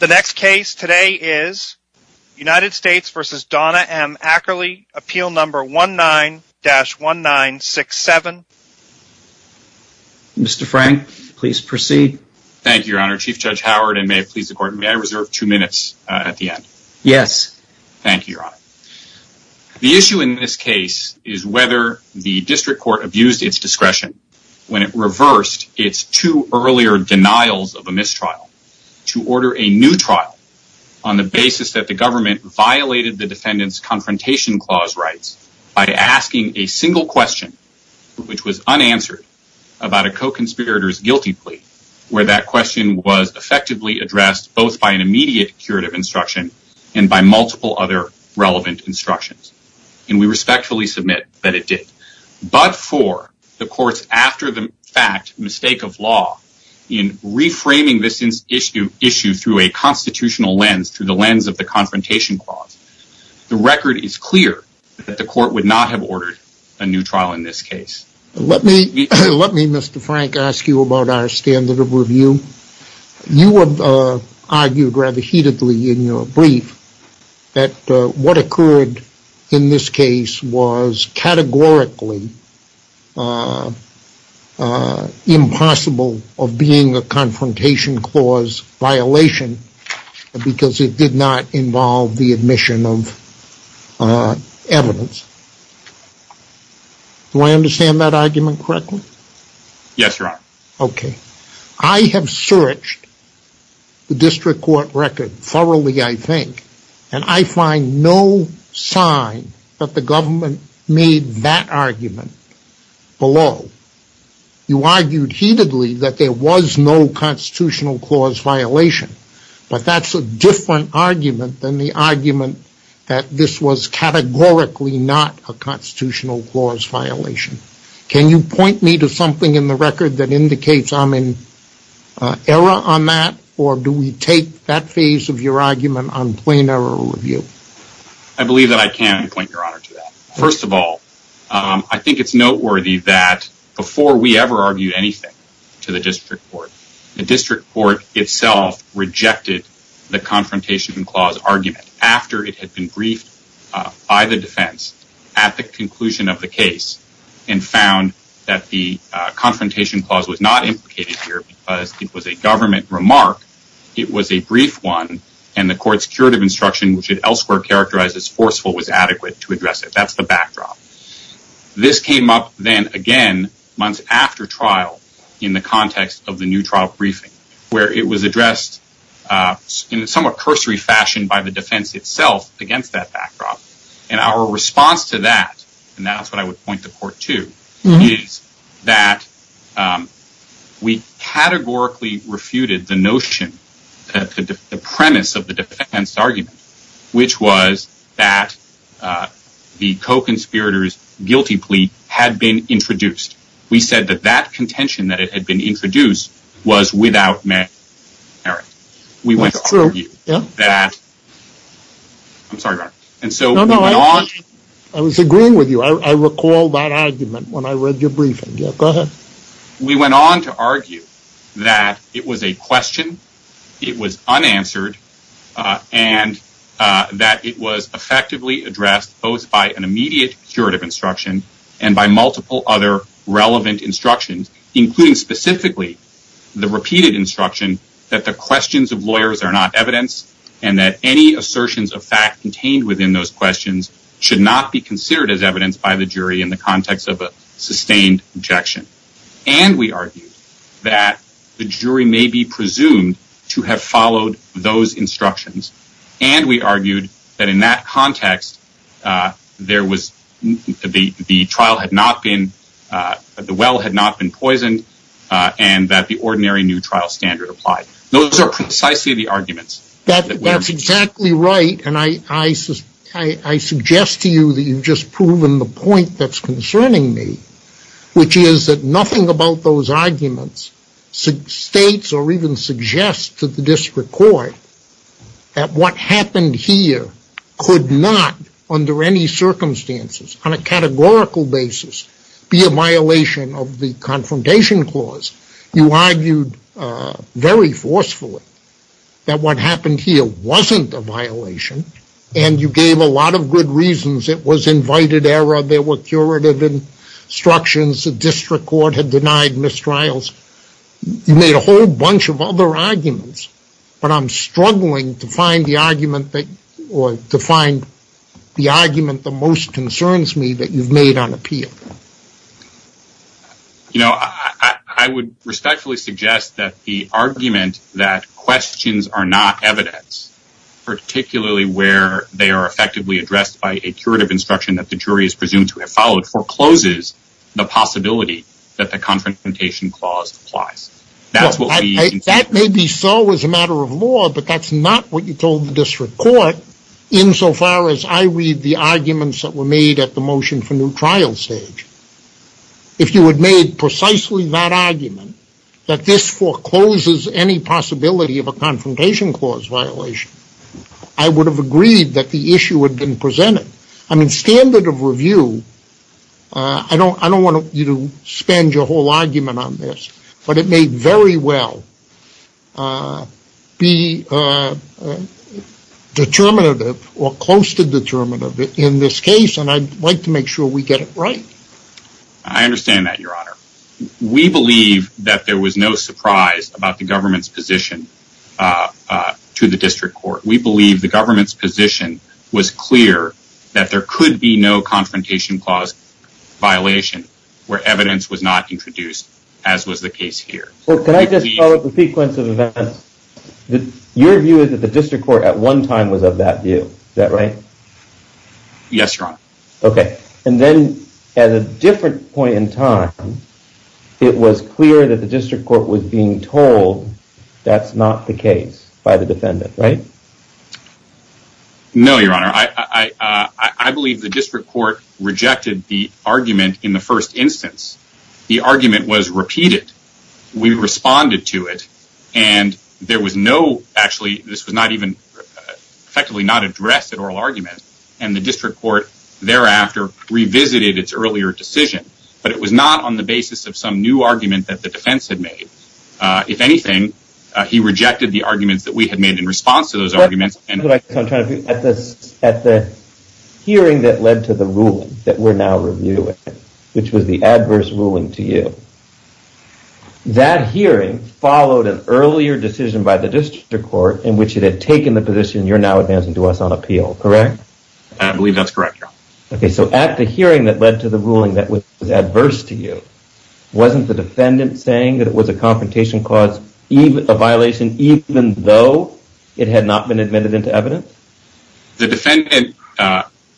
The next case today is United States v. Donna M. Ackerly, Appeal No. 19-1967. Mr. Frank, please proceed. Thank you, Your Honor. Chief Judge Howard, and may it please the Court, may I reserve two minutes at the end? Yes. Thank you, Your Honor. The issue in this case is whether the District Court abused its discretion when it reversed its two earlier denials of a mistrial to order a new trial on the basis that the government violated the defendant's confrontation clause rights by asking a single question, which was unanswered, about a co-conspirator's guilty plea, where that question was effectively addressed both by an immediate curative instruction and by multiple other relevant instructions. And we respectfully submit that it did. But for the Court's, after the fact, mistake of law in reframing this issue through a constitutional lens, through the lens of the confrontation clause, the record is clear that the Court would not have ordered a new trial in this case. Let me, Mr. Frank, ask you about our standard of review. You have argued rather heatedly in your brief that what occurred in this case was categorically impossible of being a confrontation clause violation because it did not involve the admission of evidence. Do I understand that argument correctly? Yes, Your Honor. Okay. I have searched the District Court record thoroughly, I think, and I find no sign that the government made that argument below. You argued heatedly that there was no constitutional clause violation, but that's a different argument than the argument that this was categorically not a constitutional clause violation. Can you point me to something in the record that indicates I'm in error on that or do we take that phase of your argument on plain error review? I believe that I can point, Your Honor, to that. First of all, I think it's noteworthy that before we ever argued anything to the District Court, the District Court itself rejected the confrontation clause argument after it had been briefed by the defense at the conclusion of the case and found that the confrontation clause was not implicated here because it was a government remark. It was a brief one and the court's curative instruction, which it elsewhere characterized as forceful, was adequate to address it. That's the backdrop. This came up then again months after trial in the context of the new trial briefing where it was addressed in a somewhat cursory fashion by the defense itself against that backdrop. Our response to that, and that's what I would point the court to, is that we categorically refuted the notion, the premise of the defense argument, which was that the co-conspirators' guilty plea had been introduced. We said that that contention that it had been introduced was without merit. We went on to argue that it was a question, it was unanswered, and that it was effectively addressed both by an immediate curative instruction and by multiple other relevant instructions, including specifically the repeated instruction that the questions of lawyers are not evidence and that any assertions of fact contained within those questions should not be considered as evidence by the jury in the context of a sustained objection. And we argued that the jury may be presumed to have followed those instructions, and we argued that in that context the well had not been poisoned and that the ordinary new trial standard applied. Those are precisely the arguments. That's exactly right, and I suggest to you that you've just proven the point that's concerning me, which is that nothing about those arguments states or even suggests to the district court that what happened here could not, under any circumstances, on a categorical basis, be a violation of the confrontation clause. You argued very forcefully that what happened here wasn't a violation, and you gave a lot of good reasons. It was invited error. There were curative instructions. The district court had denied mistrials. You made a whole bunch of other arguments, but I'm struggling to find the argument that most concerns me that you've made on appeal. You know, I would respectfully suggest that the argument that questions are not evidence, particularly where they are effectively addressed by a curative instruction forecloses the possibility that the confrontation clause applies. That may be so as a matter of law, but that's not what you told the district court insofar as I read the arguments that were made at the motion for new trial stage. If you had made precisely that argument, that this forecloses any possibility of a confrontation clause violation, I would have agreed that the issue had been presented. I mean, standard of review, I don't want you to spend your whole argument on this, but it may very well be determinative or close to determinative in this case, and I'd like to make sure we get it right. I understand that, Your Honor. We believe that there was no surprise about the government's position to the district court. We believe the government's position was clear that there could be no confrontation clause violation where evidence was not introduced, as was the case here. Well, can I just follow up the sequence of events? Your view is that the district court at one time was of that view. Is that right? Yes, Your Honor. Okay, and then at a different point in time, it was clear that the district court was being told that's not the case by the defendant, right? No, Your Honor. I believe the district court rejected the argument in the first instance. The argument was repeated. We responded to it, and there was no, actually, this was not even effectively not addressed at oral argument, and the district court thereafter revisited its earlier decision, but it was not on the basis of some new argument that the defense had made. If anything, he rejected the arguments that we had made in response to those arguments. At the hearing that led to the ruling that we're now reviewing, which was the adverse ruling to you, that hearing followed an earlier decision by the district court in which it had taken the position you're now advancing to us on appeal, correct? I believe that's correct, Your Honor. Okay, so at the hearing that led to the ruling that was adverse to you, wasn't the defendant saying that it was a confrontation clause, a violation even though it had not been admitted into evidence? The defendant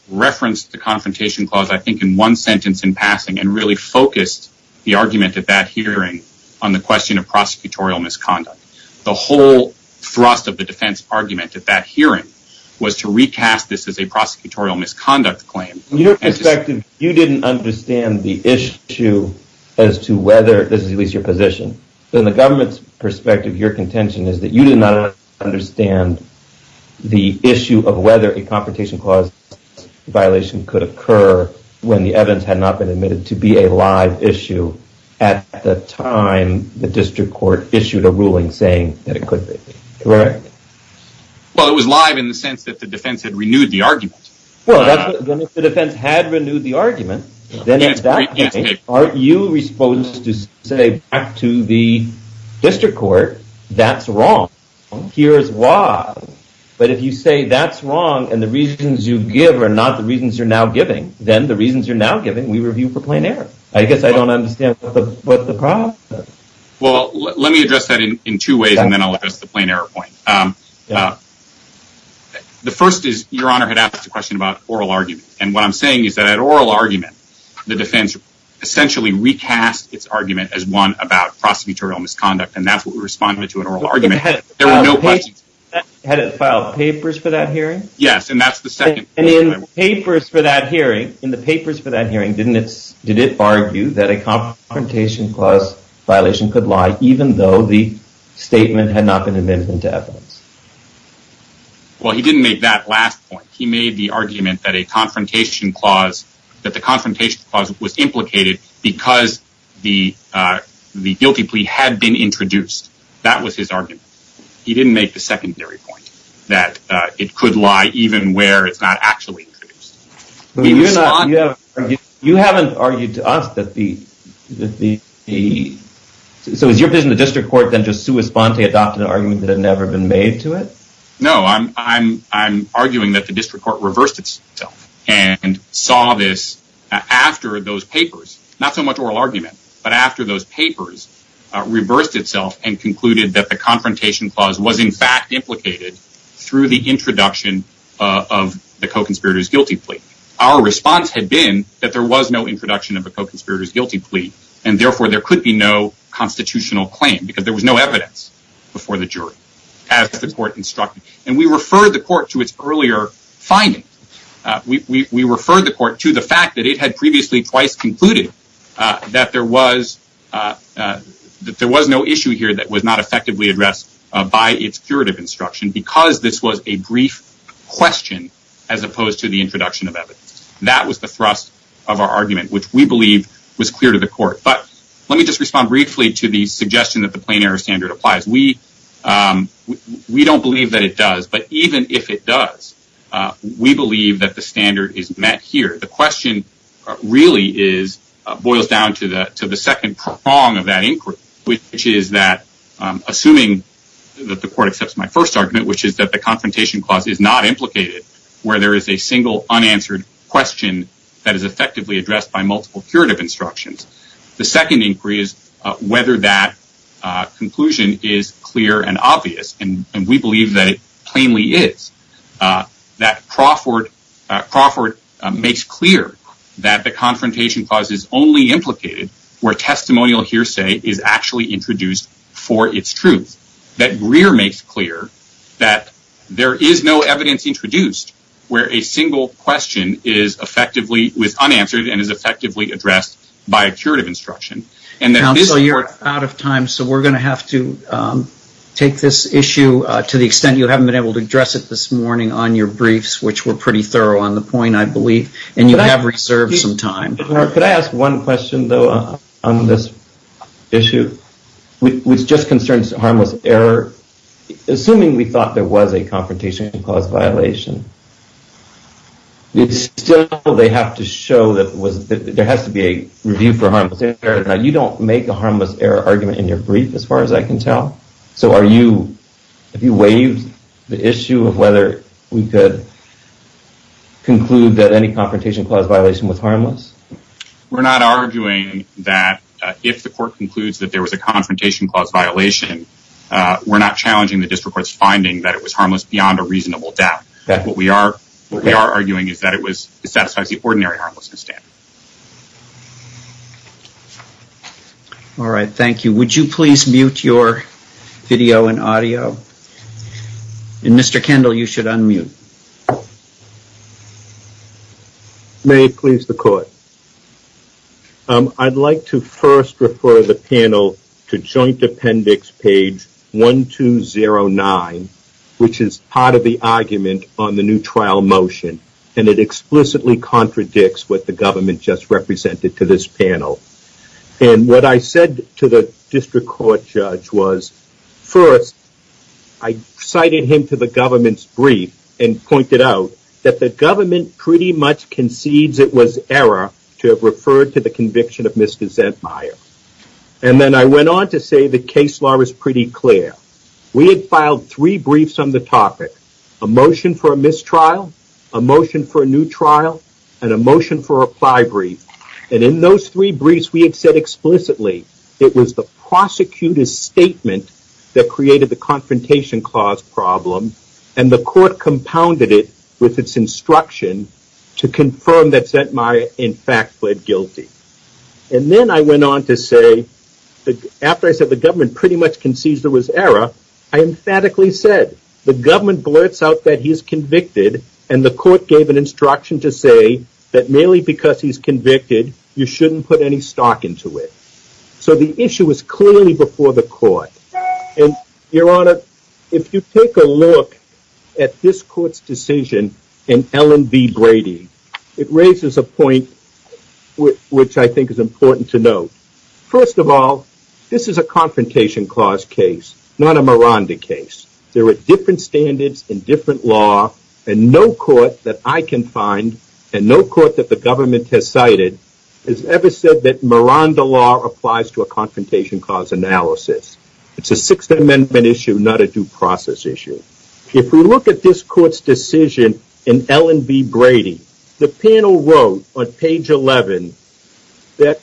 referenced the confrontation clause, I think, in one sentence in passing and really focused the argument at that hearing on the question of prosecutorial misconduct. The whole thrust of the defense argument at that hearing was to recast this as a prosecutorial misconduct claim. From your perspective, you didn't understand the issue as to whether, this is at least your position, but in the government's perspective, your contention is that you did not understand the issue of whether a confrontation clause violation could occur when the evidence had not been admitted to be a live issue at the time the district court issued a ruling saying that it could be. Correct? Well, if the defense had renewed the argument, then at that point, aren't you supposed to say back to the district court, that's wrong, here's why. But if you say that's wrong and the reasons you give are not the reasons you're now giving, then the reasons you're now giving we review for plain error. I guess I don't understand what the problem is. Well, let me address that in two ways and then I'll address the plain error point. The first is, your honor had asked a question about oral argument, and what I'm saying is that at oral argument, the defense essentially recast its argument as one about prosecutorial misconduct and that's what we responded to at oral argument. Had it filed papers for that hearing? Yes, and that's the second point. In the papers for that hearing, did it argue that a confrontation clause violation could lie even though the statement had not been admitted to evidence? Well, he didn't make that last point. He made the argument that a confrontation clause, that the confrontation clause was implicated because the guilty plea had been introduced. That was his argument. He didn't make the secondary point that it could lie even where it's not actually introduced. You haven't argued to us that the... So is your position the district court then just sui sponte adopted an argument that had never been made to it? No, I'm arguing that the district court reversed itself and saw this after those papers, not so much oral argument, but after those papers reversed itself and concluded that the confrontation clause was in fact implicated through the introduction of the co-conspirator's guilty plea. Our response had been that there was no introduction of a co-conspirator's guilty plea and therefore there could be no constitutional claim because there was no evidence before the jury as the court instructed. And we referred the court to its earlier findings. We referred the court to the fact that it had previously twice concluded that there was no issue here that was not effectively addressed by its curative instruction because this was a brief question as opposed to the introduction of evidence. That was the thrust of our argument, which we believe was clear to the court. But let me just respond briefly to the suggestion that the plain error standard applies. We don't believe that it does, but even if it does, we believe that the standard is met here. The question really boils down to the second prong of that inquiry, which is that assuming that the court accepts my first argument, which is that the confrontation clause is not implicated, where there is a single unanswered question that is effectively addressed by multiple curative instructions. The second inquiry is whether that conclusion is clear and obvious, and we believe that it plainly is. That Crawford makes clear that the confrontation clause is only implicated where testimonial hearsay is actually introduced for its truth. That Greer makes clear that there is no evidence introduced where a single question is unanswered and is effectively addressed by a curative instruction. Counsel, you're out of time, so we're going to have to take this issue to the extent you haven't been able to address it this morning on your briefs, which were pretty thorough on the point, I believe, and you have reserved some time. Could I ask one question, though, on this issue, which just concerns harmless error? Assuming we thought there was a confrontation clause violation, still they have to show that there has to be a review for harmless error. Now, you don't make a harmless error argument in your brief, as far as I can tell. So have you waived the issue of whether we could conclude that any confrontation clause violation was harmless? We're not arguing that if the court concludes that there was a confrontation clause violation, we're not challenging the district court's finding that it was harmless beyond a reasonable doubt. What we are arguing is that it satisfies the ordinary harmlessness standard. All right. Thank you. Would you please mute your video and audio? Mr. Kendall, you should unmute. May it please the court. I'd like to first refer the panel to joint appendix page 1209, which is part of the argument on the new trial motion, and it explicitly contradicts what the government just represented to this panel. And what I said to the district court judge was, first, I cited him to the government's brief and pointed out that the government pretty much concedes it was error to have referred to the conviction of Mr. Zentmeier. And then I went on to say the case law was pretty clear. We had filed three briefs on the topic. A motion for a mistrial, a motion for a new trial, and a motion for a reply brief. And in those three briefs, we had said explicitly it was the prosecutor's statement that created the confrontation clause problem, and the court compounded it with its instruction to confirm that Zentmeier, in fact, pled guilty. And then I went on to say, after I said the government pretty much concedes there was error, I emphatically said the government blurts out that he's convicted, and the court gave an instruction to say that merely because he's convicted, you shouldn't put any stock into it. So the issue was clearly before the court. And, Your Honor, if you take a look at this court's decision in Ellen B. Brady, it raises a point which I think is important to note. First of all, this is a confrontation clause case, not a Miranda case. There are different standards and different law, and no court that I can find and no court that the government has cited has ever said that Miranda law applies to a confrontation clause analysis. It's a Sixth Amendment issue, not a due process issue. If we look at this court's decision in Ellen B. Brady, the panel wrote on page 11 that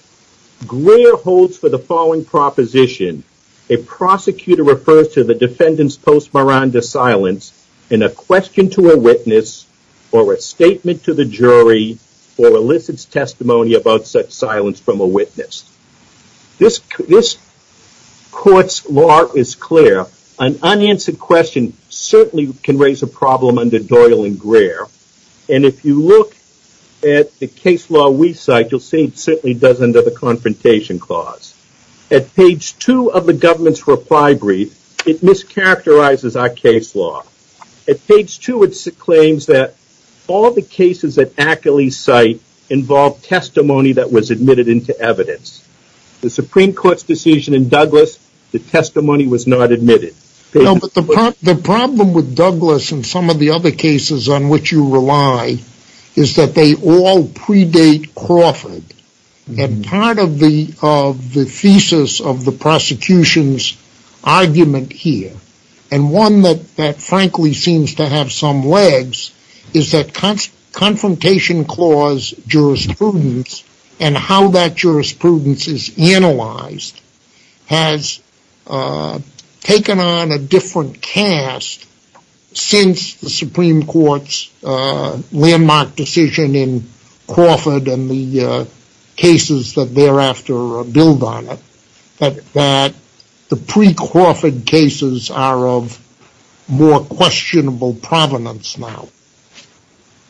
Greer holds for the following proposition, a prosecutor refers to the defendant's post-Miranda silence in a question to a witness or a statement to the jury or elicits testimony about such silence from a witness. This court's law is clear. An unanswered question certainly can raise a problem under Doyle and Greer. And if you look at the case law we cite, you'll see it certainly does under the confrontation clause. At page 2 of the government's reply brief, it mischaracterizes our case law. At page 2 it claims that all the cases that Ackley cite involve testimony that was admitted into evidence. The Supreme Court's decision in Douglas, the testimony was not admitted. But the problem with Douglas and some of the other cases on which you rely is that they all predate Crawford. And part of the thesis of the prosecution's argument here, and one that frankly seems to have some legs, is that confrontation clause jurisprudence and how that jurisprudence is analyzed has taken on a different cast since the Supreme Court's landmark decision in Crawford and the cases that thereafter build on it. But the pre-Crawford cases are of more questionable provenance now.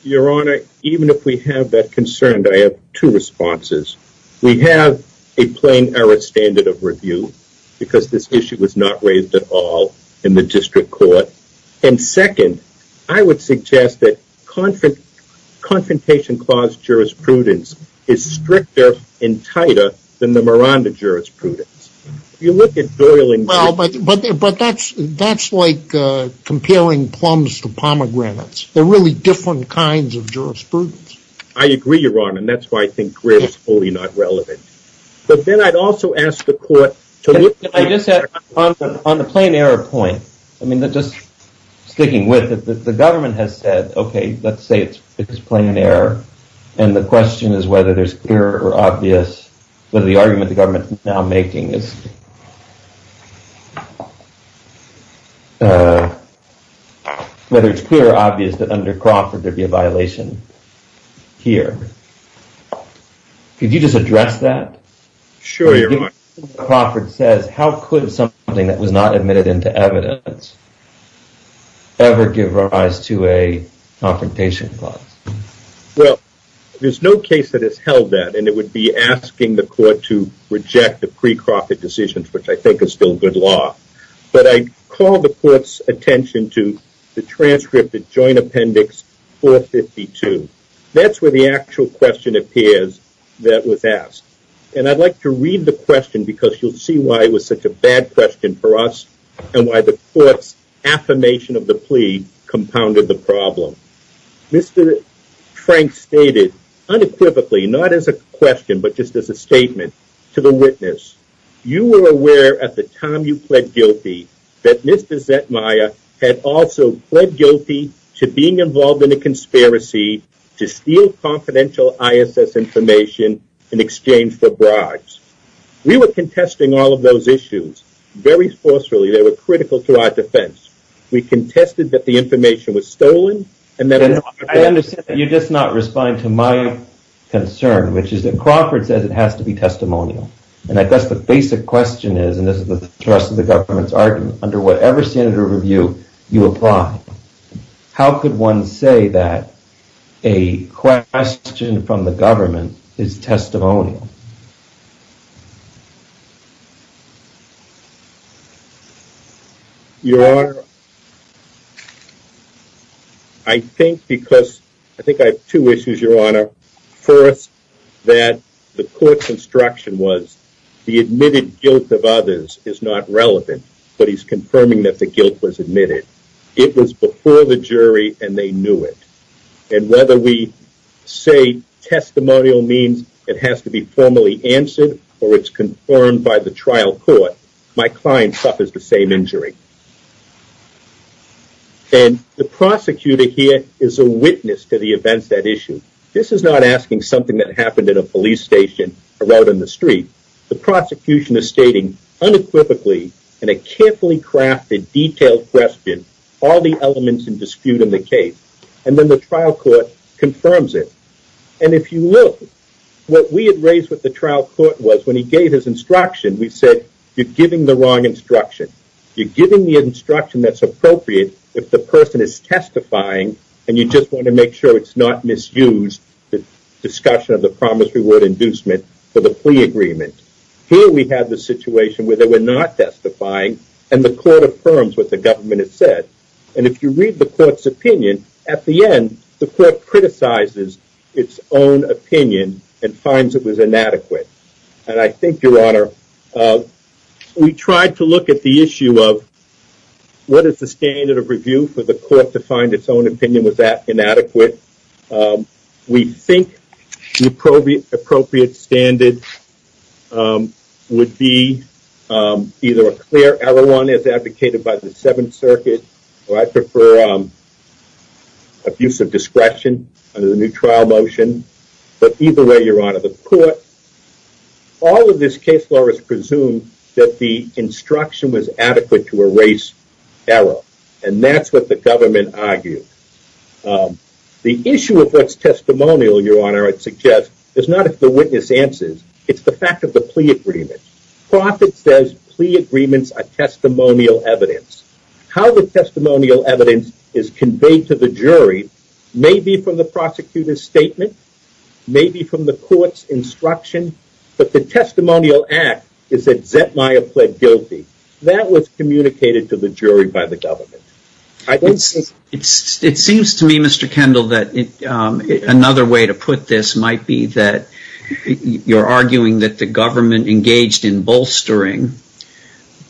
Your Honor, even if we have that concern, I have two responses. We have a plain error standard of review because this issue was not raised at all in the district court. And second, I would suggest that confrontation clause jurisprudence is stricter and tighter than the Miranda jurisprudence. But that's like comparing plums to pomegranates. They're really different kinds of jurisprudence. I agree, Your Honor, and that's why I think Griff's wholly not relevant. But then I'd also ask the court to look... On the plain error point, just sticking with it, the government has said, okay, let's say it's plain error, and the question is whether there's clear or obvious, whether the argument the government is now making is... whether it's clear or obvious that under Crawford there'd be a violation here. Could you just address that? Sure, Your Honor. Crawford says, how could something that was not admitted into evidence ever give rise to a confrontation clause? Well, there's no case that has held that, and it would be asking the court to reject the pre-Crawford decisions, which I think is still good law. But I call the court's attention to the transcript of Joint Appendix 452. That's where the actual question appears that was asked. And I'd like to read the question, because you'll see why it was such a bad question for us and why the court's affirmation of the plea compounded the problem. Mr. Frank stated unequivocally, not as a question, but just as a statement to the witness, you were aware at the time you pled guilty that Mr. Zetmaya had also pled guilty to being involved in a conspiracy to steal confidential ISS information in exchange for bribes. We were contesting all of those issues very forcefully. They were critical to our defense. We contested that the information was stolen. I understand that you're just not responding to my concern, which is that Crawford says it has to be testimonial. And I guess the basic question is, and this is the thrust of the government's argument, under whatever standard of review you apply, how could one say that a question from the government is testimonial? Your Honor, I think because I think I have two issues, Your Honor. First, that the court's instruction was the admitted guilt of others is not relevant, but he's confirming that the guilt was admitted. It was before the jury and they knew it. And whether we say testimonial means it has to be formally answered or it's confirmed by the trial court, my client suffers the same injury. And the prosecutor here is a witness to the events that issue. This is not asking something that happened at a police station or out on the street. The prosecution is stating unequivocally in a carefully crafted detailed question all the elements in dispute in the case. And then the trial court confirms it. And if you look, what we had raised with the trial court was when he gave his instruction, we said, you're giving the wrong instruction. You're giving the instruction that's appropriate if the person is testifying and you just want to make sure it's not misused, the discussion of the promise-reward inducement for the plea agreement. Here we have the situation where they were not testifying and the court affirms what the government has said. And if you read the court's opinion, at the end the court criticizes its own opinion and finds it was inadequate. And I think, Your Honor, we tried to look at the issue of what is the standard of review for the court to find its own opinion was inadequate. We think the appropriate standard would be either a clear error one as advocated by the Seventh Circuit, or I prefer abuse of discretion under the new trial motion. But either way, Your Honor, the court, all of this case law is presumed that the instruction was adequate to erase error. And that's what the government argued. The issue of what's testimonial, Your Honor, I'd suggest, is not if the witness answers, it's the fact of the plea agreement. Profitt says plea agreements are testimonial evidence. How the testimonial evidence is conveyed to the jury may be from the prosecutor's statement, may be from the court's instruction, but the testimonial act is that Zetmire pled guilty. That was communicated to the jury by the government. It seems to me, Mr. Kendall, that another way to put this might be that you're arguing that the government engaged in bolstering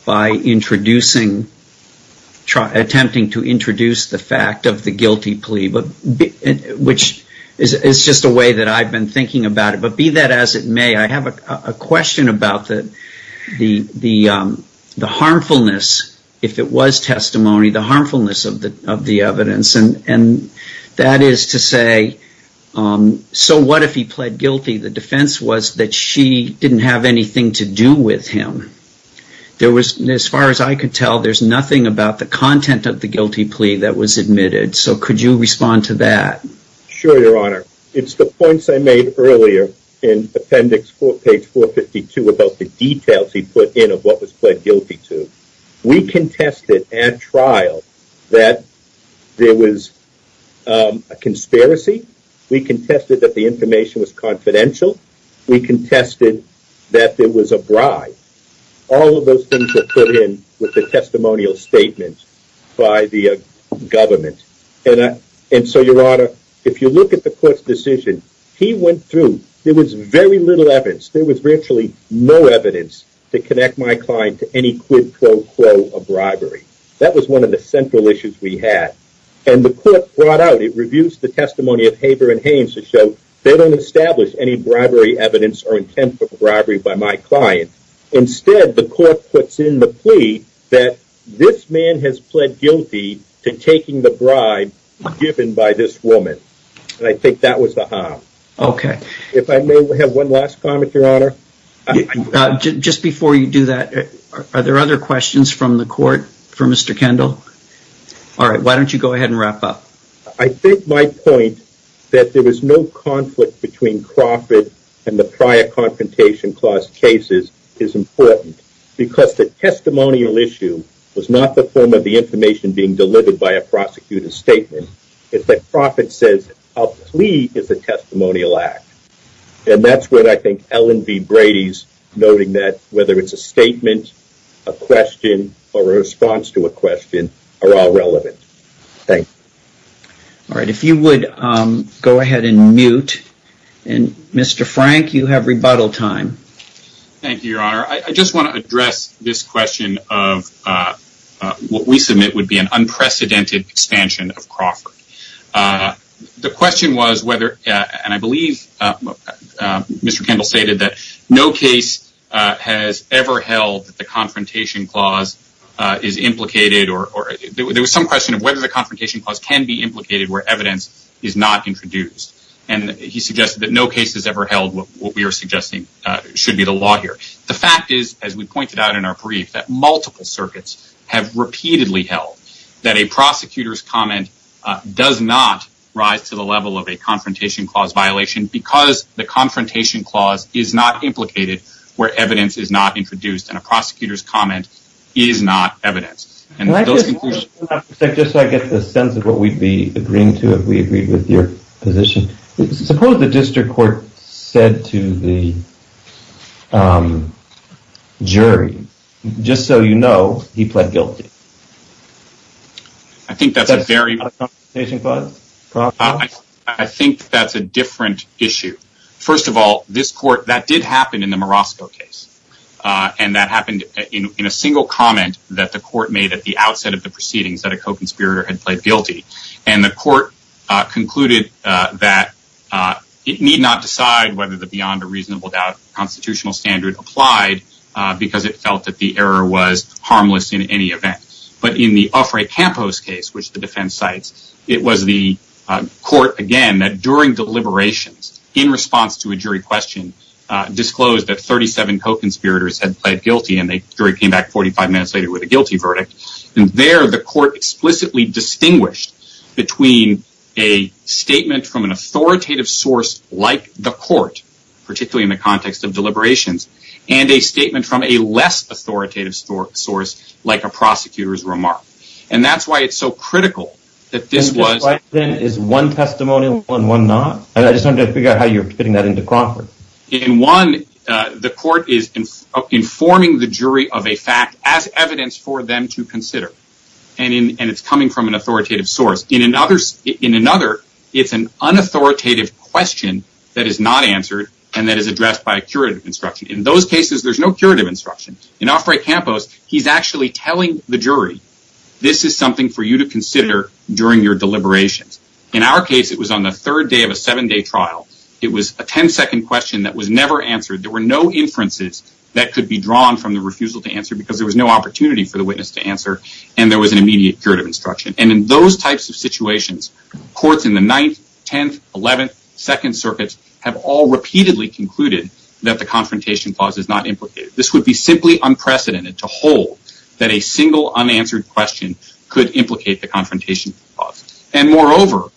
by attempting to introduce the fact of the guilty plea, which is just a way that I've been thinking about it. But be that as it may, I have a question about the harmfulness, if it was testimony, the harmfulness of the evidence. And that is to say, so what if he pled guilty? The defense was that she didn't have anything to do with him. As far as I could tell, there's nothing about the content of the guilty plea that was admitted. So could you respond to that? Sure, Your Honor. It's the points I made earlier in appendix page 452 about the details he put in of what was pled guilty to. We contested at trial that there was a conspiracy. We contested that the information was confidential. We contested that there was a bribe. All of those things were put in with the testimonial statement by the government. And so, Your Honor, if you look at the court's decision, he went through, there was very little evidence. There was virtually no evidence to connect my client to any quid pro quo of bribery. That was one of the central issues we had. And the court brought out, it reviews the testimony of Haber and Haynes to show they don't establish any bribery evidence or intent for bribery by my client. Instead, the court puts in the plea that this man has pled guilty to taking the bribe given by this woman. And I think that was the harm. Okay. If I may have one last comment, Your Honor. Just before you do that, are there other questions from the court for Mr. Kendall? All right, why don't you go ahead and wrap up. I think my point that there was no conflict between Crawford and the prior confrontation clause cases is important. Because the testimonial issue was not the form of the information being delivered by a prosecutor's statement. It's that Crawford says a plea is a testimonial act. And that's what I think Ellen B. Brady's noting that, whether it's a statement, a question, or a response to a question, are all relevant. Thank you. All right. If you would go ahead and mute. And Mr. Frank, you have rebuttal time. Thank you, Your Honor. I just want to address this question of what we submit would be an unprecedented expansion of Crawford. The question was whether, and I believe Mr. Kendall stated that no case has ever held that the confrontation clause is implicated or there was some question of whether the confrontation clause can be implicated where evidence is not introduced. And he suggested that no case has ever held what we are suggesting should be the law here. The fact is, as we pointed out in our brief, that multiple circuits have repeatedly held that a prosecutor's comment does not rise to the level of a confrontation clause violation because the confrontation clause is not implicated where evidence is not introduced and a prosecutor's comment is not evidence. Just so I get the sense of what we'd be agreeing to if we agreed with your position, suppose the district court said to the jury, just so you know, he pled guilty. I think that's a very... That's not a confrontation clause? I think that's a different issue. First of all, this court, that did happen in the Marasco case. And that happened in a single comment that the court made at the outset of the proceedings that a co-conspirator had pled guilty. And the court concluded that it need not decide whether the beyond a reasonable doubt constitutional standard applied because it felt that the error was harmless in any event. But in the Offrey-Campos case, which the defense cites, it was the court, again, that during deliberations, in response to a jury question, disclosed that 37 co-conspirators had pled guilty and the jury came back 45 minutes later with a guilty verdict. And there, the court explicitly distinguished between a statement from an authoritative source like the court, particularly in the context of deliberations, and a statement from a less authoritative source like a prosecutor's remark. And that's why it's so critical that this was... Is one testimonial and one not? I just wanted to figure out how you're putting that into Crawford. In one, the court is informing the jury of a fact as evidence for them to consider. And it's coming from an authoritative source. In another, it's an unauthoritative question that is not answered and that is addressed by a curative instruction. In those cases, there's no curative instruction. In Offrey-Campos, he's actually telling the jury, this is something for you to consider during your deliberations. In our case, it was on the third day of a seven-day trial. It was a 10-second question that was never answered. There were no inferences that could be drawn from the refusal to answer because there was no opportunity for the witness to answer. And there was an immediate curative instruction. And in those types of situations, courts in the 9th, 10th, 11th, 2nd circuits have all repeatedly concluded that the confrontation clause is not implicated. This would be simply unprecedented to hold that a single unanswered question could implicate the confrontation clause. And moreover,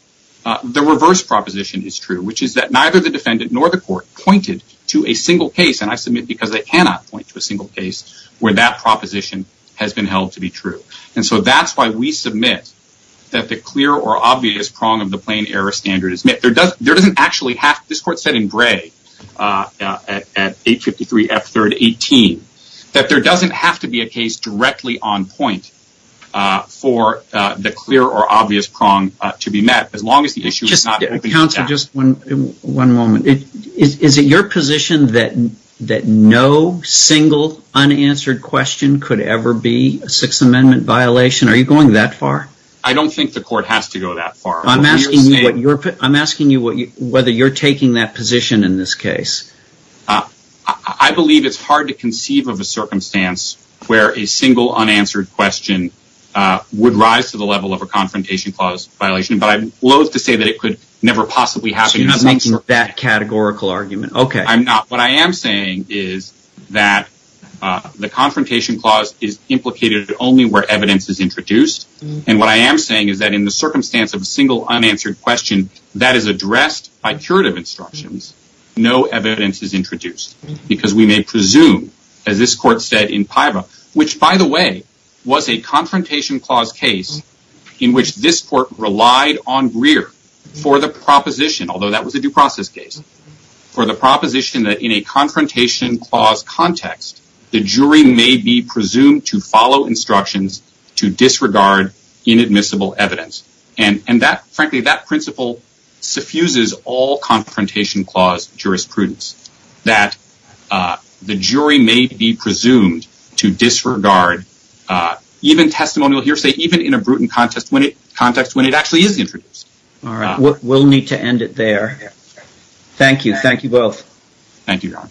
the reverse proposition is true, which is that neither the defendant nor the court pointed to a single case, and I submit because they cannot point to a single case, where that proposition has been held to be true. And so that's why we submit that the clear or obvious prong of the plain error standard is met. This court said in gray at 853 F3rd 18 that there doesn't have to be a case directly on point for the clear or obvious prong to be met Counsel, just one moment. Is it your position that no single unanswered question could ever be a Sixth Amendment violation? Are you going that far? I don't think the court has to go that far. I'm asking you whether you're taking that position in this case. I believe it's hard to conceive of a circumstance where a single unanswered question would rise to the level of a confrontation clause violation. But I'm loathe to say that it could never possibly happen. So you're making that categorical argument. I'm not. What I am saying is that the confrontation clause is implicated only where evidence is introduced. And what I am saying is that in the circumstance of a single unanswered question, that is addressed by curative instructions, no evidence is introduced. Because we may presume, as this court said in Pyra, which, by the way, was a confrontation clause case in which this court relied on Greer for the proposition, although that was a due process case, for the proposition that in a confrontation clause context, the jury may be presumed to follow instructions to disregard inadmissible evidence. And frankly, that principle suffuses all confrontation clause jurisprudence, that the jury may be presumed to disregard even testimonial hearsay, even in a Bruton context when it actually is introduced. All right. We'll need to end it there. Thank you. Thank you both. Thank you, Your Honor.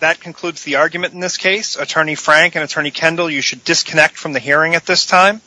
That concludes the argument in this case. Attorney Frank and Attorney Kendall, you should disconnect from the hearing at this time.